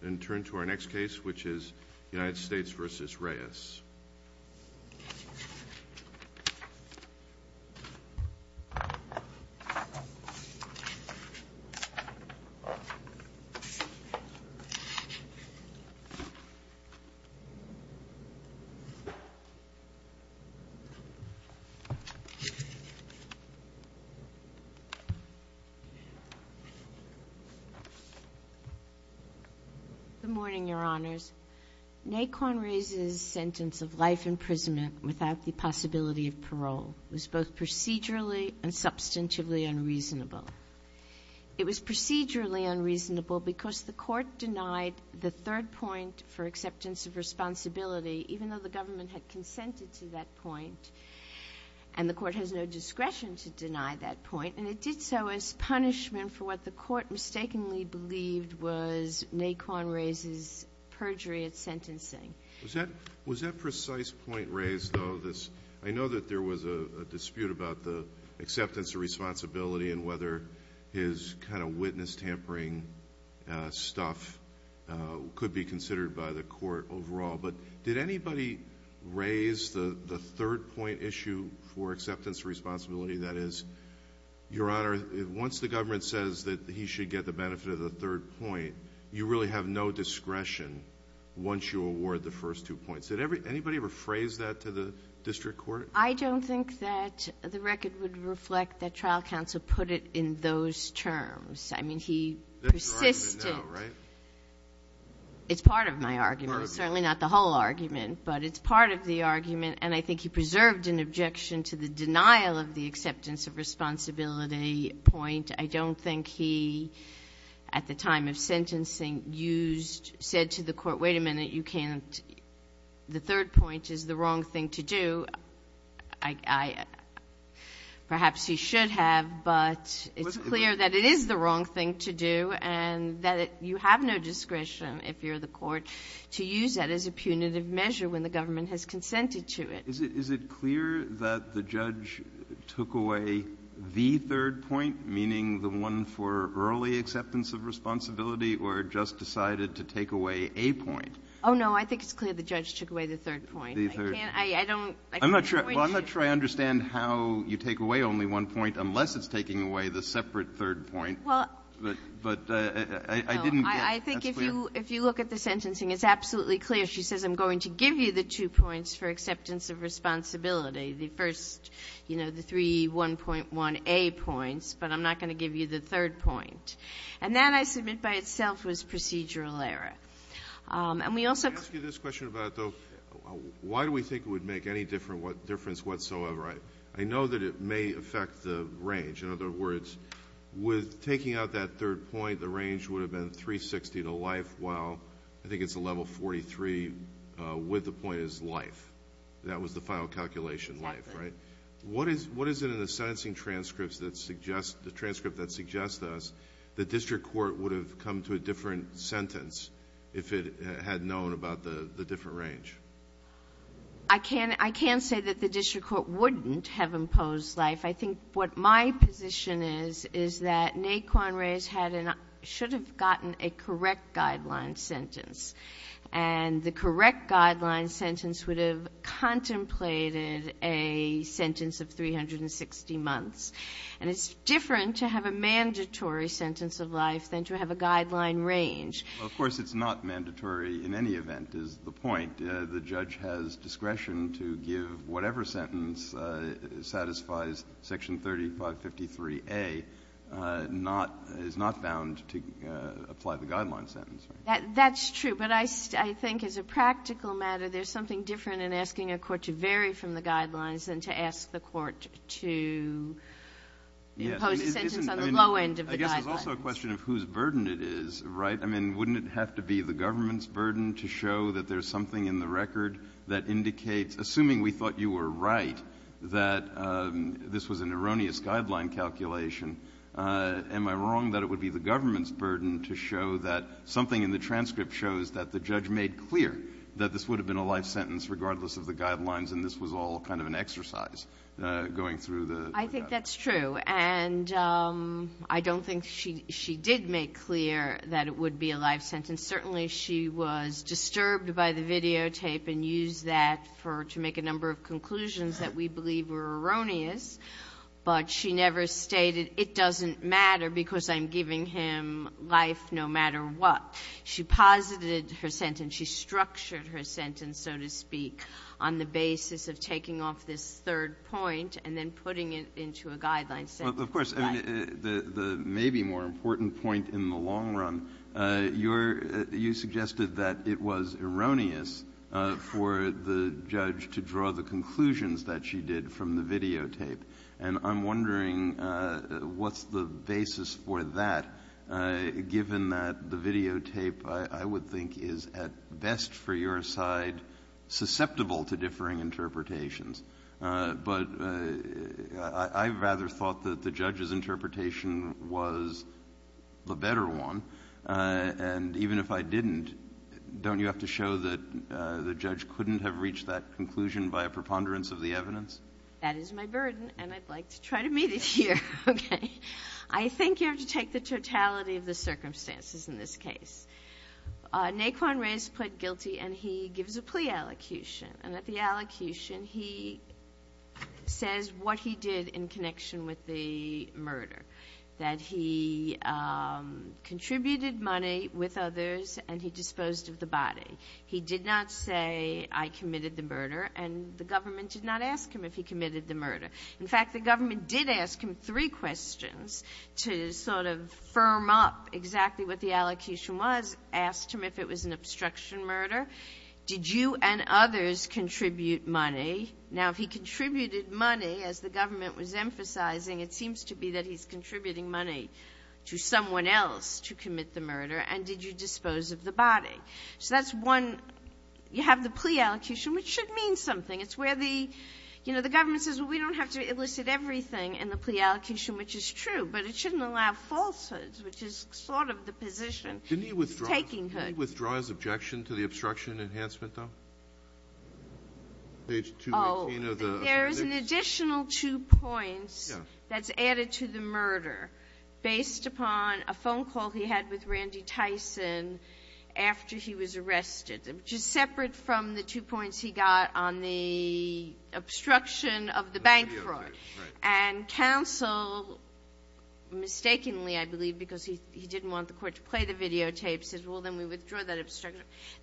And turn to our next case, which is United States v. Reyes. Good morning, Your Honors. Nacon Reyes' sentence of life imprisonment without the possibility of parole was both procedurally and substantively unreasonable. It was procedurally unreasonable because the court denied the third point for acceptance of responsibility, even though the government had consented to that point, and the court has no discretion to deny that point. And it did so as punishment for what the court mistakenly believed was Nacon Reyes' perjury at sentencing. Was that precise point raised, though? I know that there was a dispute about the acceptance of responsibility and whether his kind of witness-tampering stuff could be considered by the court overall, but did anybody raise the third point issue for acceptance of responsibility? That is, Your Honor, once the government says that he should get the benefit of the third point, you really have no discretion once you award the first two points. Did anybody ever phrase that to the district court? I don't think that the record would reflect that trial counsel put it in those terms. I mean, he persisted. That's your argument now, right? It's part of my argument. It's certainly not the whole argument, but it's part of the argument. And I think he preserved an objection to the denial of the acceptance of responsibility point. I don't think he, at the time of sentencing, used to say to the court, wait a minute, you can't. The third point is the wrong thing to do. Perhaps he should have, but it's clear that it is the wrong thing to do and that you have no discretion, if you're the court, to use that as a punitive measure when the government has consented to it. Is it clear that the judge took away the third point, meaning the one for early acceptance of responsibility, or just decided to take away a point? Oh, no. I think it's clear the judge took away the third point. The third point. I can't. I don't. I'm not sure I understand how you take away only one point unless it's taking away the separate third point. But I didn't get it. That's clear. I think if you look at the sentencing, it's absolutely clear. She says, I'm going to give you the two points for acceptance of responsibility, the first, you know, the three 1.1a points, but I'm not going to give you the third point. And that, I submit, by itself was procedural error. And we also can't. Let me ask you this question about, though. Why do we think it would make any difference whatsoever? I know that it may affect the range. In other words, with taking out that third point, the range would have been 360 to life, while I think it's a level 43 with the point as life. That was the final calculation, life, right? Exactly. What is it in the sentencing transcripts that suggests, the transcript that suggests this, the district court would have come to a different sentence if it had known about the different range? I can't say that the district court wouldn't have imposed life. I think what my position is, is that Naquan Reyes should have gotten a correct guideline sentence. And the correct guideline sentence would have contemplated a sentence of 360 months. And it's different to have a mandatory sentence of life than to have a guideline range. Well, of course, it's not mandatory in any event, is the point. In fact, the judge has discretion to give whatever sentence satisfies Section 3553a, is not bound to apply the guideline sentence. That's true. But I think as a practical matter, there's something different in asking a court to vary from the guidelines than to ask the court to impose a sentence on the low end of the guidelines. I guess there's also a question of whose burden it is, right? I mean, wouldn't it have to be the government's burden to show that there's something in the record that indicates, assuming we thought you were right, that this was an erroneous guideline calculation, am I wrong that it would be the government's burden to show that something in the transcript shows that the judge made clear that this would have been a life sentence regardless of the guidelines and this was all kind of an exercise going through the guidelines? I think that's true. And I don't think she did make clear that it would be a life sentence. Certainly she was disturbed by the videotape and used that to make a number of conclusions that we believe were erroneous, but she never stated it doesn't matter because I'm giving him life no matter what. She posited her sentence. She structured her sentence, so to speak, on the basis of taking off this third point and then putting it into a guideline sentence. But of course, I mean, the maybe more important point in the long run, you suggested that it was erroneous for the judge to draw the conclusions that she did from the videotape. And I'm wondering what's the basis for that, given that the videotape, I would think, is at best for your side susceptible to differing interpretations. But I rather thought that the judge's interpretation was the better one. And even if I didn't, don't you have to show that the judge couldn't have reached that conclusion by a preponderance of the evidence? That is my burden and I'd like to try to meet it here. Okay. I think you have to take the totality of the circumstances in this case. Naquan Ray is put guilty and he gives a plea allocution. And at the allocution, he says what he did in connection with the murder, that he contributed money with others and he disposed of the body. He did not say, I committed the murder, and the government did not ask him if he committed the murder. In fact, the government did ask him three questions to sort of firm up exactly what the allocation was, asked him if it was an obstruction murder. Did you and others contribute money? Now, if he contributed money, as the government was emphasizing, it seems to be that he's contributing money to someone else to commit the murder. And did you dispose of the body? So that's one. You have the plea allocation, which should mean something. It's where the government says, well, we don't have to elicit everything in the plea allocation, which is true. But it shouldn't allow falsehoods, which is sort of the position. It's takinghood. Didn't he withdraw his objection to the obstruction enhancement, though? Page 218 of the appendix. Oh, there's an additional two points that's added to the murder based upon a phone call he had with Randy Tyson after he was arrested, which is separate from the two points he got on the obstruction of the bank fraud. And counsel mistakenly, I believe, because he didn't want the court to play the videotape, says, well, then we withdraw that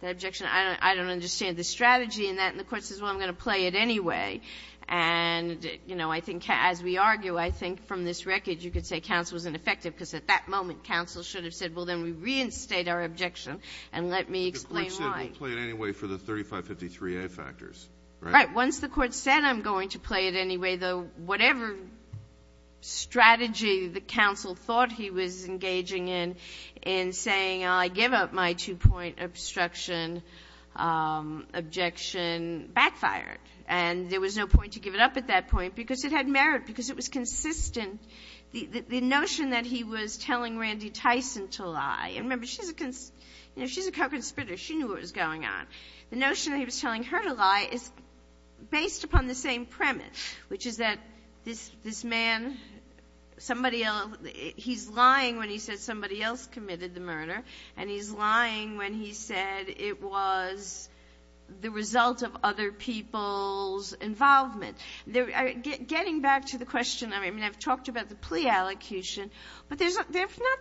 objection. I don't understand the strategy in that. And the court says, well, I'm going to play it anyway. And, you know, I think as we argue, I think from this record you could say counsel was ineffective because at that moment counsel should have said, well, then we reinstate our objection and let me explain why. The court said we'll play it anyway for the 3553A factors, right? Right. Once the court said I'm going to play it anyway, whatever strategy the counsel thought he was engaging in, in saying I give up my two-point obstruction objection backfired. And there was no point to give it up at that point because it had merit, because it was consistent. The notion that he was telling Randy Tyson to lie, and remember, she's a co-conspirator. She knew what was going on. The notion that he was telling her to lie is based upon the same premise, which is that this man, somebody else, he's lying when he says somebody else committed the murder, and he's lying when he said it was the result of other people's involvement. Getting back to the question, I mean, I've talked about the plea allocution, but there's not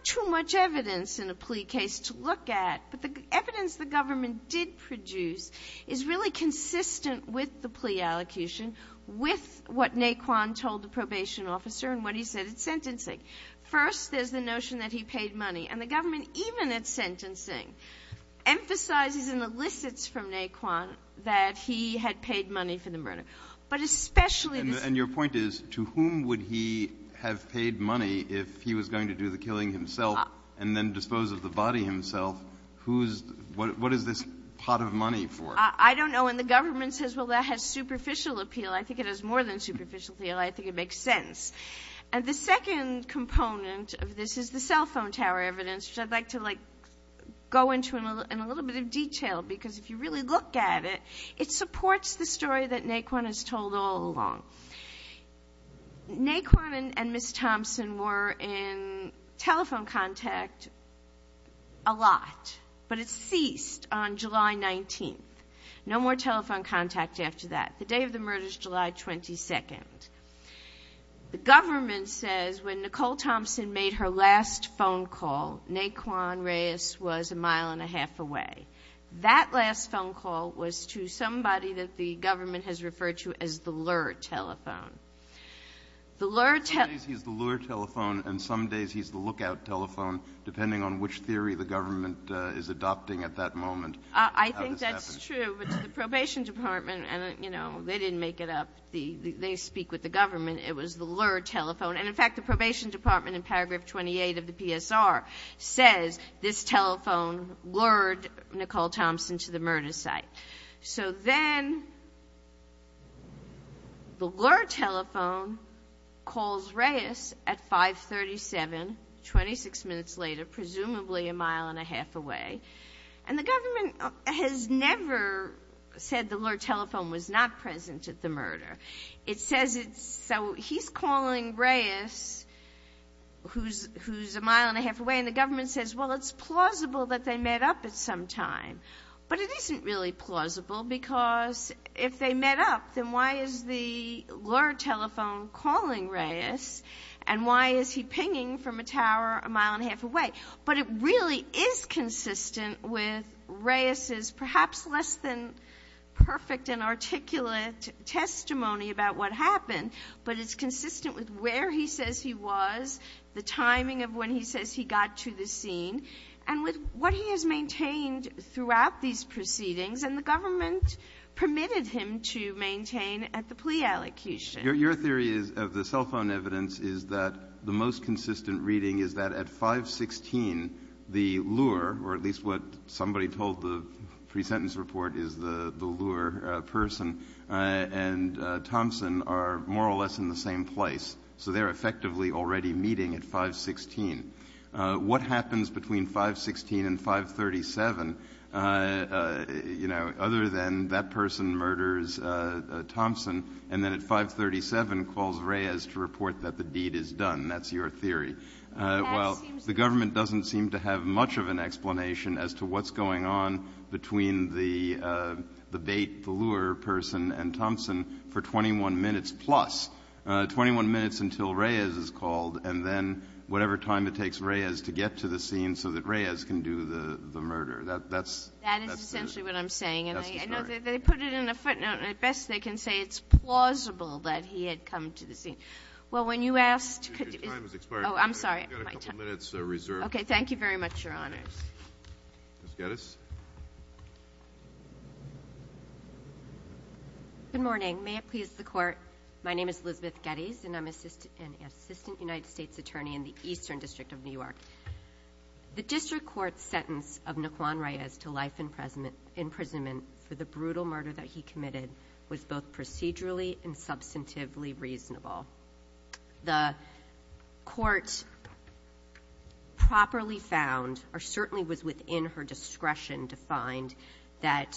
too much evidence in a plea case to look at. But the evidence the government did produce is really consistent with the plea allocution, with what Naquan told the probation officer and what he said at sentencing. First, there's the notion that he paid money. And the government, even at sentencing, emphasizes and elicits from Naquan that he had paid money for the murder. But especially this one. And your point is, to whom would he have paid money if he was going to do the killing himself and then dispose of the body himself? What is this pot of money for? I don't know. And the government says, well, that has superficial appeal. I think it has more than superficial appeal. I think it makes sense. And the second component of this is the cell phone tower evidence, which I'd like to go into in a little bit of detail, because if you really look at it, it supports the story that Naquan has told all along. Naquan and Ms. Thompson were in telephone contact a lot. But it ceased on July 19th. No more telephone contact after that. The day of the murder is July 22nd. The government says when Nicole Thompson made her last phone call, Naquan Reyes was a mile and a half away. That last phone call was to somebody that the government has referred to as the lure telephone. Some days he's the lure telephone, and some days he's the lookout telephone, depending on which theory the government is adopting at that moment. I think that's true. But to the probation department, and, you know, they didn't make it up. They speak with the government. It was the lure telephone. And, in fact, the probation department in paragraph 28 of the PSR says, this telephone lured Nicole Thompson to the murder site. So then the lure telephone calls Reyes at 537, 26 minutes later, presumably a mile and a half away. And the government has never said the lure telephone was not present at the murder. It says it's so he's calling Reyes, who's a mile and a half away, and the government says, well, it's plausible that they met up at some time. But it isn't really plausible because if they met up, then why is the lure telephone calling Reyes, and why is he pinging from a tower a mile and a half away? But it really is consistent with Reyes's perhaps less than perfect and articulate testimony about what happened, but it's consistent with where he says he was, the timing of when he says he got to the scene, and with what he has maintained throughout these proceedings, and the government permitted him to maintain at the plea allocution. Your theory is, of the cell phone evidence, is that the most consistent reading is that at 516, the lure, or at least what somebody told the pre-sentence report is the lure person, and Thompson are more or less in the same place. So they're effectively already meeting at 516. What happens between 516 and 537, you know, other than that person murders Thompson, and then at 537 calls Reyes to report that the deed is done? That's your theory. Well, the government doesn't seem to have much of an explanation as to what's going on between the bait, the lure person, and Thompson for 21 minutes plus. 21 minutes until Reyes is called, and then whatever time it takes Reyes to get to the scene so that Reyes can do the murder. That's the story. That is essentially what I'm saying. And I know they put it in a footnote, and at best they can say it's plausible that he had come to the scene. Well, when you asked – Your time has expired. Oh, I'm sorry. You've got a couple minutes reserved. Thank you very much, Your Honors. Ms. Geddes. Good morning. May it please the Court. My name is Elizabeth Geddes, and I'm an Assistant United States Attorney in the Eastern District of New York. The District Court's sentence of Naquan Reyes to life imprisonment for the brutal murder that he committed was both procedurally and substantively reasonable. The Court properly found, or certainly was within her discretion to find, that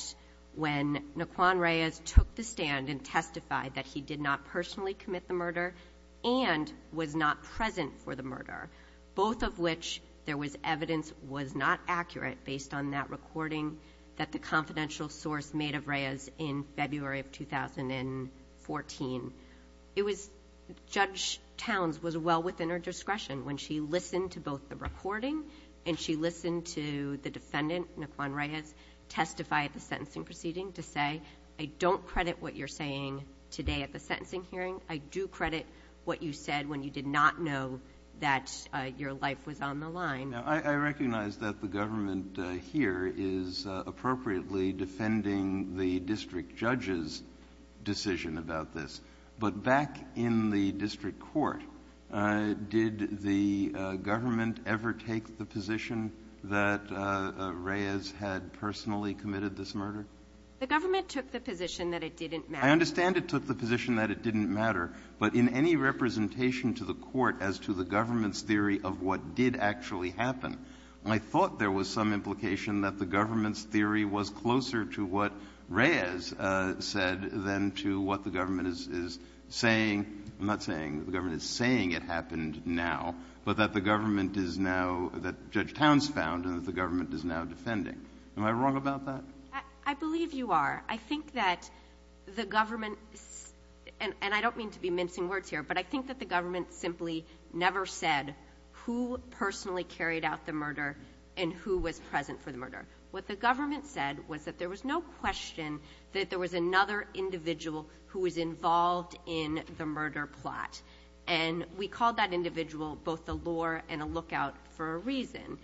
when Naquan Reyes took the stand and testified that he did not personally commit the murder and was not present for the murder, both of which there was evidence was not accurate based on that recording that the confidential source made of Reyes in February of 2014, it was – Judge Towns was well within her discretion when she listened to both the recording and she listened to the defendant, Naquan Reyes, testify at the sentencing proceeding to say, I don't credit what you're saying today at the sentencing hearing. I do credit what you said when you did not know that your life was on the line. Now, I recognize that the government here is appropriately defending the District Judge's decision about this, but back in the District Court, did the government ever take the position that Reyes had personally committed this murder? The government took the position that it didn't matter. I understand it took the position that it didn't matter, but in any representation to the Court as to the government's theory of what did actually happen, I thought there was some implication that the government's theory was closer to what Reyes said than to what the government is saying. I'm not saying the government is saying it happened now, but that the government is now – that Judge Towns found and that the government is now defending. Am I wrong about that? I believe you are. I think that the government – and I don't mean to be mincing words here, but I think that the government simply never said who personally carried out the murder and who was present for the murder. What the government said was that there was no question that there was another individual who was involved in the murder plot, and we called that individual both a lure and a lookout for a reason.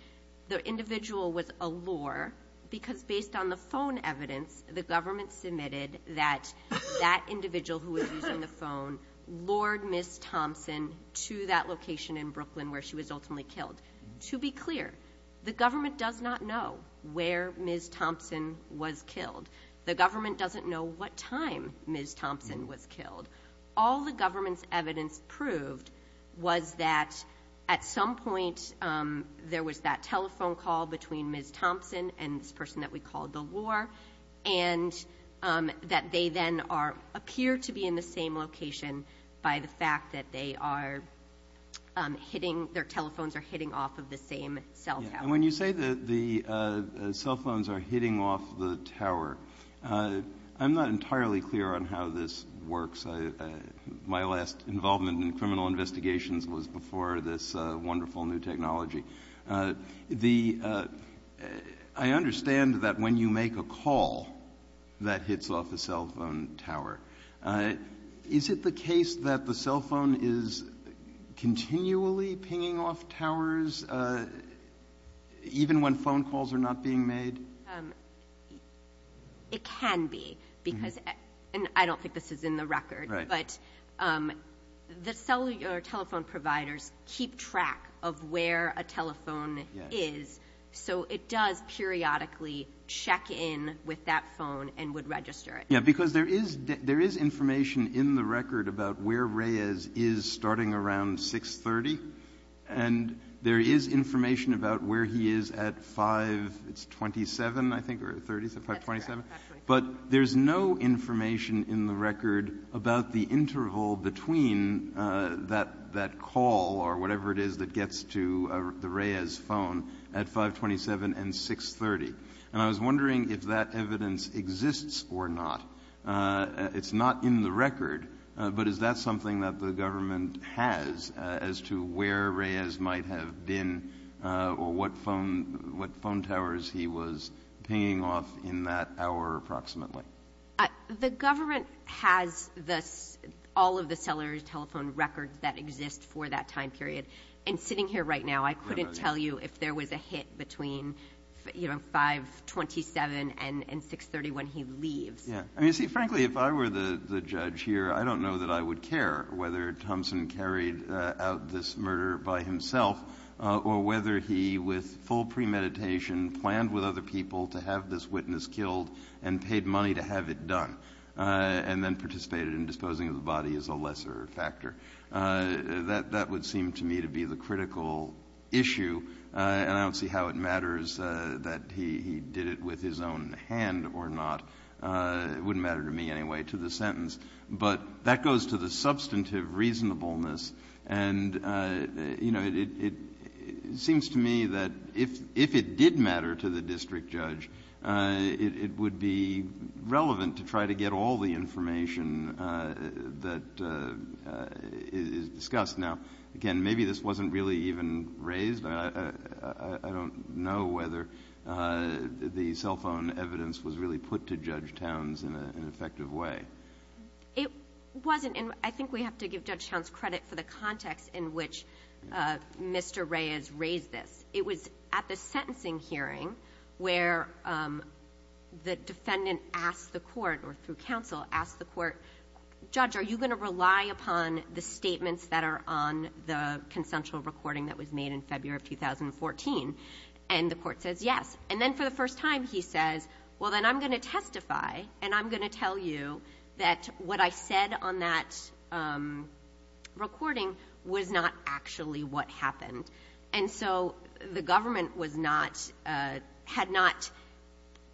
The individual was a lure because, based on the phone evidence, the government submitted that that individual who was using the phone lured Ms. Thompson to that location in Brooklyn where she was ultimately killed. To be clear, the government does not know where Ms. Thompson was killed. The government doesn't know what time Ms. Thompson was killed. All the government's evidence proved was that at some point there was that telephone call between Ms. Thompson and this person that we called the lure, and that they then appear to be in the same location by the fact that they are hitting – their telephones are hitting off of the same cell tower. And when you say that the cell phones are hitting off the tower, I'm not entirely clear on how this works. My last involvement in criminal investigations was before this wonderful new technology. The – I understand that when you make a call, that hits off a cell phone tower. Is it the case that the cell phone is continually pinging off towers even when phone calls are not being made? It can be because – and I don't think this is in the record, but the telephone providers keep track of where a telephone is, so it does periodically check in with that phone and would register it. Yeah, because there is information in the record about where Reyes is starting around 630, and there is information about where he is at 527, I think, or 527. But there's no information in the record about the interval between that call or whatever it is that gets to the Reyes phone at 527 and 630. And I was wondering if that evidence exists or not. It's not in the record, but is that something that the government has as to where Reyes might have been or what phone towers he was pinging off in that hour approximately? The government has all of the cellular telephone records that exist for that time period. And sitting here right now, I couldn't tell you if there was a hit between 527 and 630 when he leaves. Yeah. I mean, see, frankly, if I were the judge here, I don't know that I would care whether Thompson carried out this murder by himself or whether he, with full premeditation, planned with other people to have this witness killed and paid money to have it done and then participated in disposing of the body as a lesser factor. That would seem to me to be the critical issue, and I don't see how it matters that he did it with his own hand or not. It wouldn't matter to me anyway to the sentence. But that goes to the substantive reasonableness. And, you know, it seems to me that if it did matter to the district judge, it would be relevant to try to get all the information that is discussed. Now, again, maybe this wasn't really even raised. I don't know whether the cell phone evidence was really put to Judge Towns in an effective way. It wasn't. And I think we have to give Judge Towns credit for the context in which Mr. Reyes raised this. It was at the sentencing hearing where the defendant asked the court or through counsel asked the court, Judge, are you going to rely upon the statements that are on the consensual recording that was made in February of 2014? And the court says yes. And then for the first time he says, well, then I'm going to testify and I'm going to tell you that what I said on that recording was not actually what happened. And so the government had not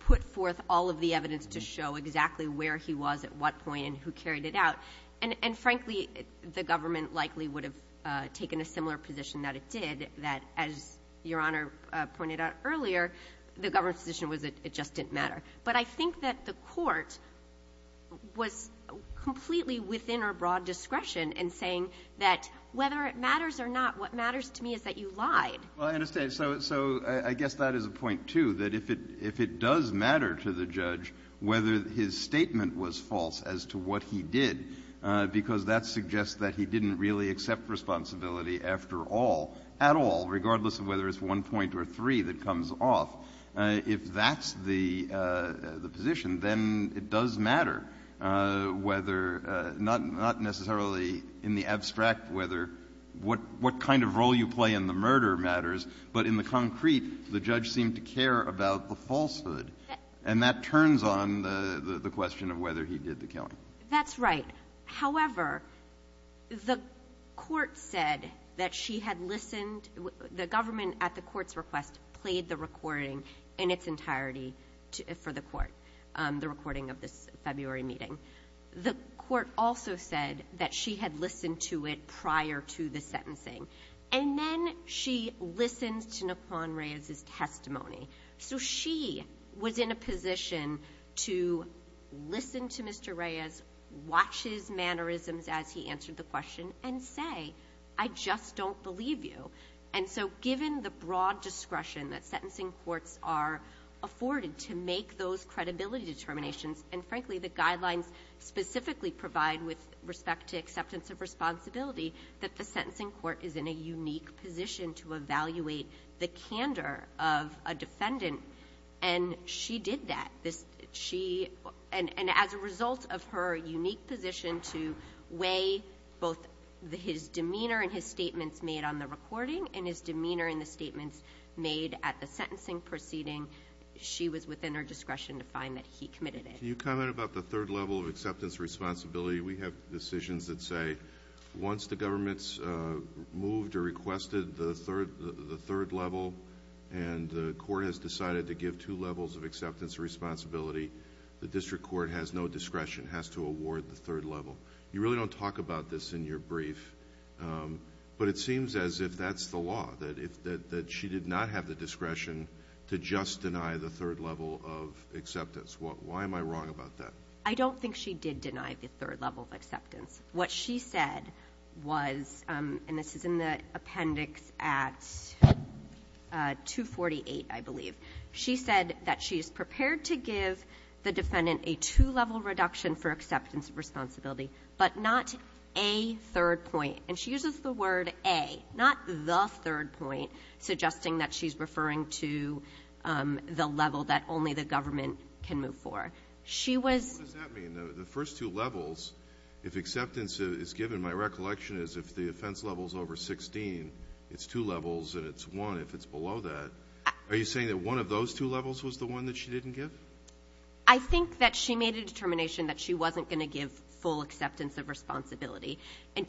put forth all of the evidence to show exactly where he was at what point and who carried it out. And, frankly, the government likely would have taken a similar position that it did, that as Your Honor pointed out earlier, the government's position was that it just didn't matter. But I think that the court was completely within our broad discretion in saying that whether it matters or not, what matters to me is that you lied. Well, I understand. So I guess that is a point, too, that if it does matter to the judge whether his statement was false as to what he did, because that suggests that he didn't really accept responsibility after all, at all, regardless of whether it's one point or three that comes off, if that's the position, then it does matter whether not necessarily in the abstract whether what kind of role you play in the murder matters, but in the concrete, the judge seemed to care about the falsehood. And that turns on the question of whether he did the killing. That's right. However, the court said that she had listened. The government at the court's request played the recording in its entirety for the court, the recording of this February meeting. The court also said that she had listened to it prior to the sentencing. And then she listened to Naquan Reyes's testimony. So she was in a position to listen to Mr. Reyes, watch his mannerisms as he answered the question, and say, I just don't believe you. And so given the broad discretion that sentencing courts are afforded to make those credibility determinations, and frankly the guidelines specifically provide with respect to acceptance of responsibility, that the sentencing court is in a unique position to evaluate the candor of a defendant. And she did that. And as a result of her unique position to weigh both his demeanor and his statements made on the recording and his demeanor in the statements made at the sentencing proceeding, she was within her discretion to find that he committed it. Can you comment about the third level of acceptance of responsibility? We have decisions that say once the government's moved or requested the third level and the court has decided to give two levels of acceptance of responsibility, the district court has no discretion, has to award the third level. You really don't talk about this in your brief, but it seems as if that's the law, that she did not have the discretion to just deny the third level of acceptance. Why am I wrong about that? I don't think she did deny the third level of acceptance. What she said was, and this is in the appendix at 248, I believe. She said that she is prepared to give the defendant a two-level reduction for acceptance of responsibility, but not a third point. And she uses the word a, not the third point, suggesting that she's referring to the level that only the government can move for. She was ---- What does that mean? The first two levels, if acceptance is given, my recollection is if the offense level is over 16, it's two levels and it's one if it's below that. Are you saying that one of those two levels was the one that she didn't give? I think that she made a determination that she wasn't going to give full acceptance of responsibility. And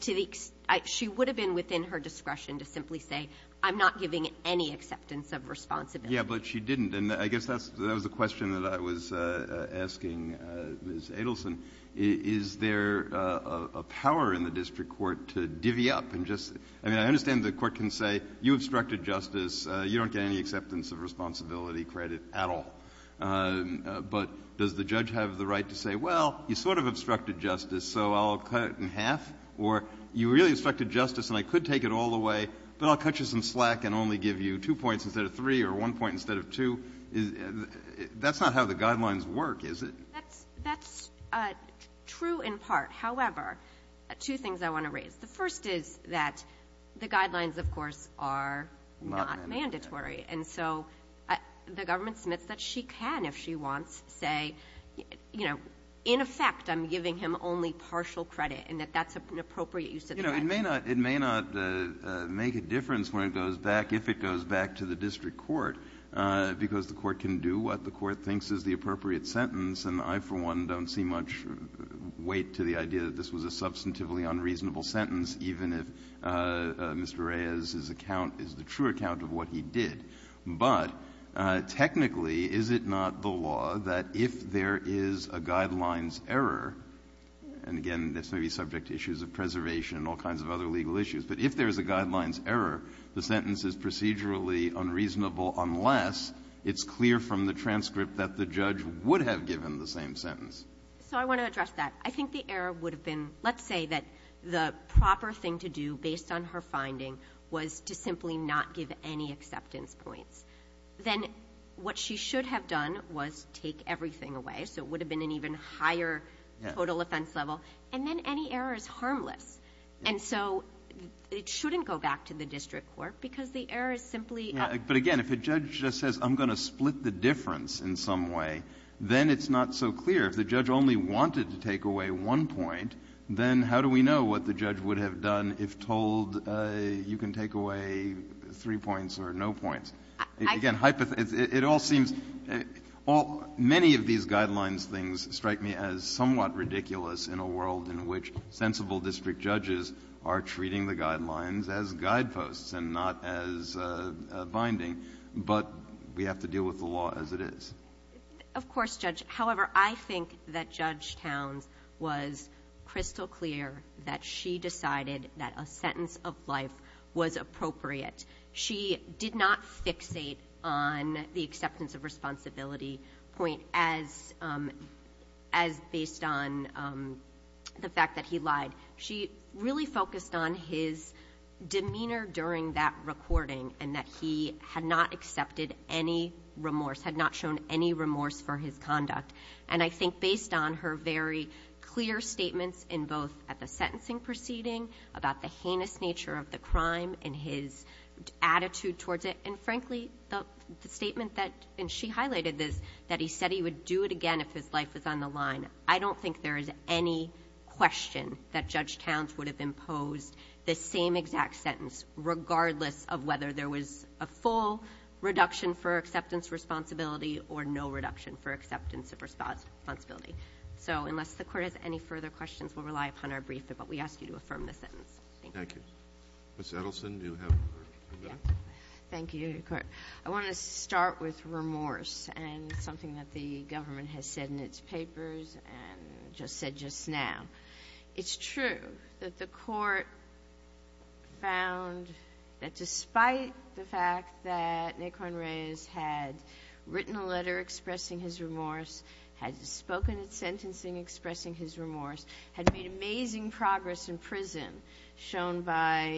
she would have been within her discretion to simply say, I'm not giving any acceptance of responsibility. Yeah, but she didn't. And I guess that's the question that I was asking Ms. Adelson. Is there a power in the district court to divvy up and just ---- I mean, I understand the court can say you obstructed justice, you don't get any acceptance of responsibility credit at all, but does the judge have the right to say, well, you sort of obstructed justice, so I'll cut it in half, or you really obstructed justice and I could take it all the way, but I'll cut you some slack and only give you two points instead of three or one point instead of two? That's not how the guidelines work, is it? That's true in part. However, two things I want to raise. The first is that the guidelines, of course, are not mandatory. And so the government submits that she can, if she wants, say, you know, in effect I'm giving him only partial credit and that that's an appropriate use of the credit. It may not make a difference when it goes back, if it goes back to the district court, because the court can do what the court thinks is the appropriate sentence and I, for one, don't see much weight to the idea that this was a substantively unreasonable sentence, even if Mr. Reyes's account is the true account of what he did. But technically, is it not the law that if there is a guidelines error, and again, this may be subject to issues of preservation and all kinds of other legal issues, but if there is a guidelines error, the sentence is procedurally unreasonable unless it's clear from the transcript that the judge would have given the same sentence? So I want to address that. I think the error would have been, let's say that the proper thing to do, based on her finding, was to simply not give any acceptance points. Then what she should have done was take everything away, so it would have been an even higher total offense level, and then any error is harmless. And so it shouldn't go back to the district court, because the error is simply up. Breyer. But, again, if a judge just says, I'm going to split the difference in some way, then it's not so clear. If the judge only wanted to take away one point, then how do we know what the judge would have done if told you can take away three points or no points? That would strike me as somewhat ridiculous in a world in which sensible district judges are treating the guidelines as guideposts and not as a binding, but we have to deal with the law as it is. Of course, Judge. However, I think that Judge Towns was crystal clear that she decided that a sentence of life was appropriate. She did not fixate on the acceptance of responsibility point as, you know, as a judge as based on the fact that he lied. She really focused on his demeanor during that recording and that he had not accepted any remorse, had not shown any remorse for his conduct. And I think based on her very clear statements in both at the sentencing proceeding about the heinous nature of the crime and his attitude towards it, and, frankly, the statement that, and she highlighted this, that he said he would do it again if his life was on the line. I don't think there is any question that Judge Towns would have imposed the same exact sentence regardless of whether there was a full reduction for acceptance responsibility or no reduction for acceptance of responsibility. So unless the Court has any further questions, we'll rely upon our briefing, but we ask you to affirm the sentence. Thank you. Thank you. Ms. Edelson, do you have a comment? Thank you, Your Court. I want to start with remorse and something that the government has said in its papers and just said just now. It's true that the Court found that despite the fact that Nikon Reyes had written a letter expressing his remorse, had spoken at sentencing expressing his remorse, had made amazing progress in prison, shown by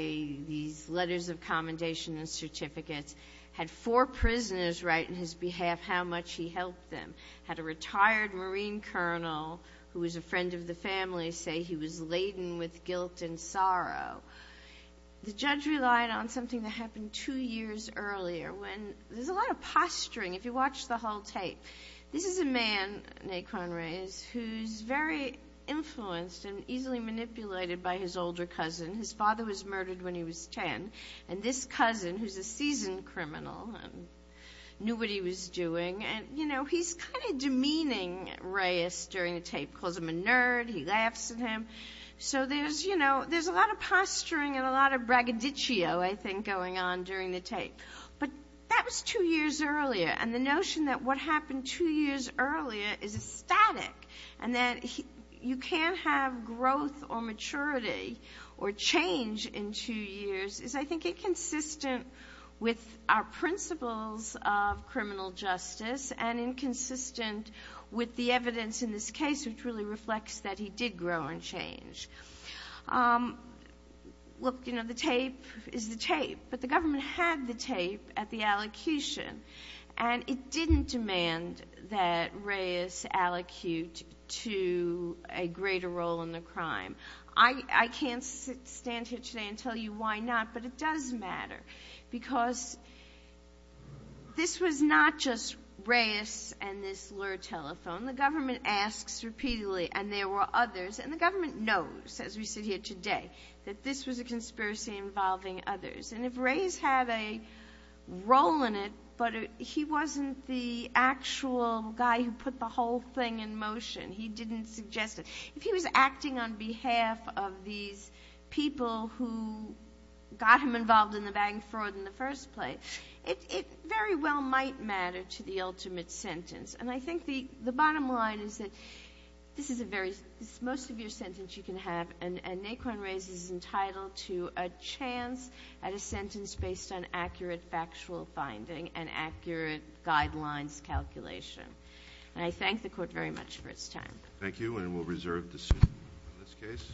these letters of commendation and certificates, had four prisoners write in his behalf how much he helped them, had a retired Marine colonel who was a friend of the family say he was laden with guilt and sorrow. The judge relied on something that happened two years earlier when there's a lot of posturing. If you watch the whole tape, this is a man, Nikon Reyes, who's very influenced and easily manipulated by his older cousin. His father was murdered when he was 10, and this cousin, who's a seasoned criminal and knew what he was doing, and, you know, he's kind of demeaning Reyes during the tape, calls him a nerd, he laughs at him. So there's, you know, there's a lot of posturing and a lot of braggadicio, I think, going on during the tape. But that was two years earlier, and the notion that what happened two years earlier is static and that you can't have growth or maturity or change in two years is, I think, inconsistent with our principles of criminal justice and inconsistent with the evidence in this case, which really reflects that he did grow and change. Look, you know, the tape is the tape, but the government had the tape at the Reyes aliquot to a greater role in the crime. I can't stand here today and tell you why not, but it does matter because this was not just Reyes and this lure telephone. The government asks repeatedly, and there were others, and the government knows, as we sit here today, that this was a conspiracy involving others. And if Reyes had a role in it, but he wasn't the actual guy who put the whole thing in motion, he didn't suggest it, if he was acting on behalf of these people who got him involved in the bagging fraud in the first place, it very well might matter to the ultimate sentence. And I think the bottom line is that this is a very, this is most of your sentence you can have, and Naquan Reyes is entitled to a chance at a sentence based on accurate factual finding and accurate guidelines calculation. And I thank the Court very much for its time. Thank you, and we'll reserve the suit in this case.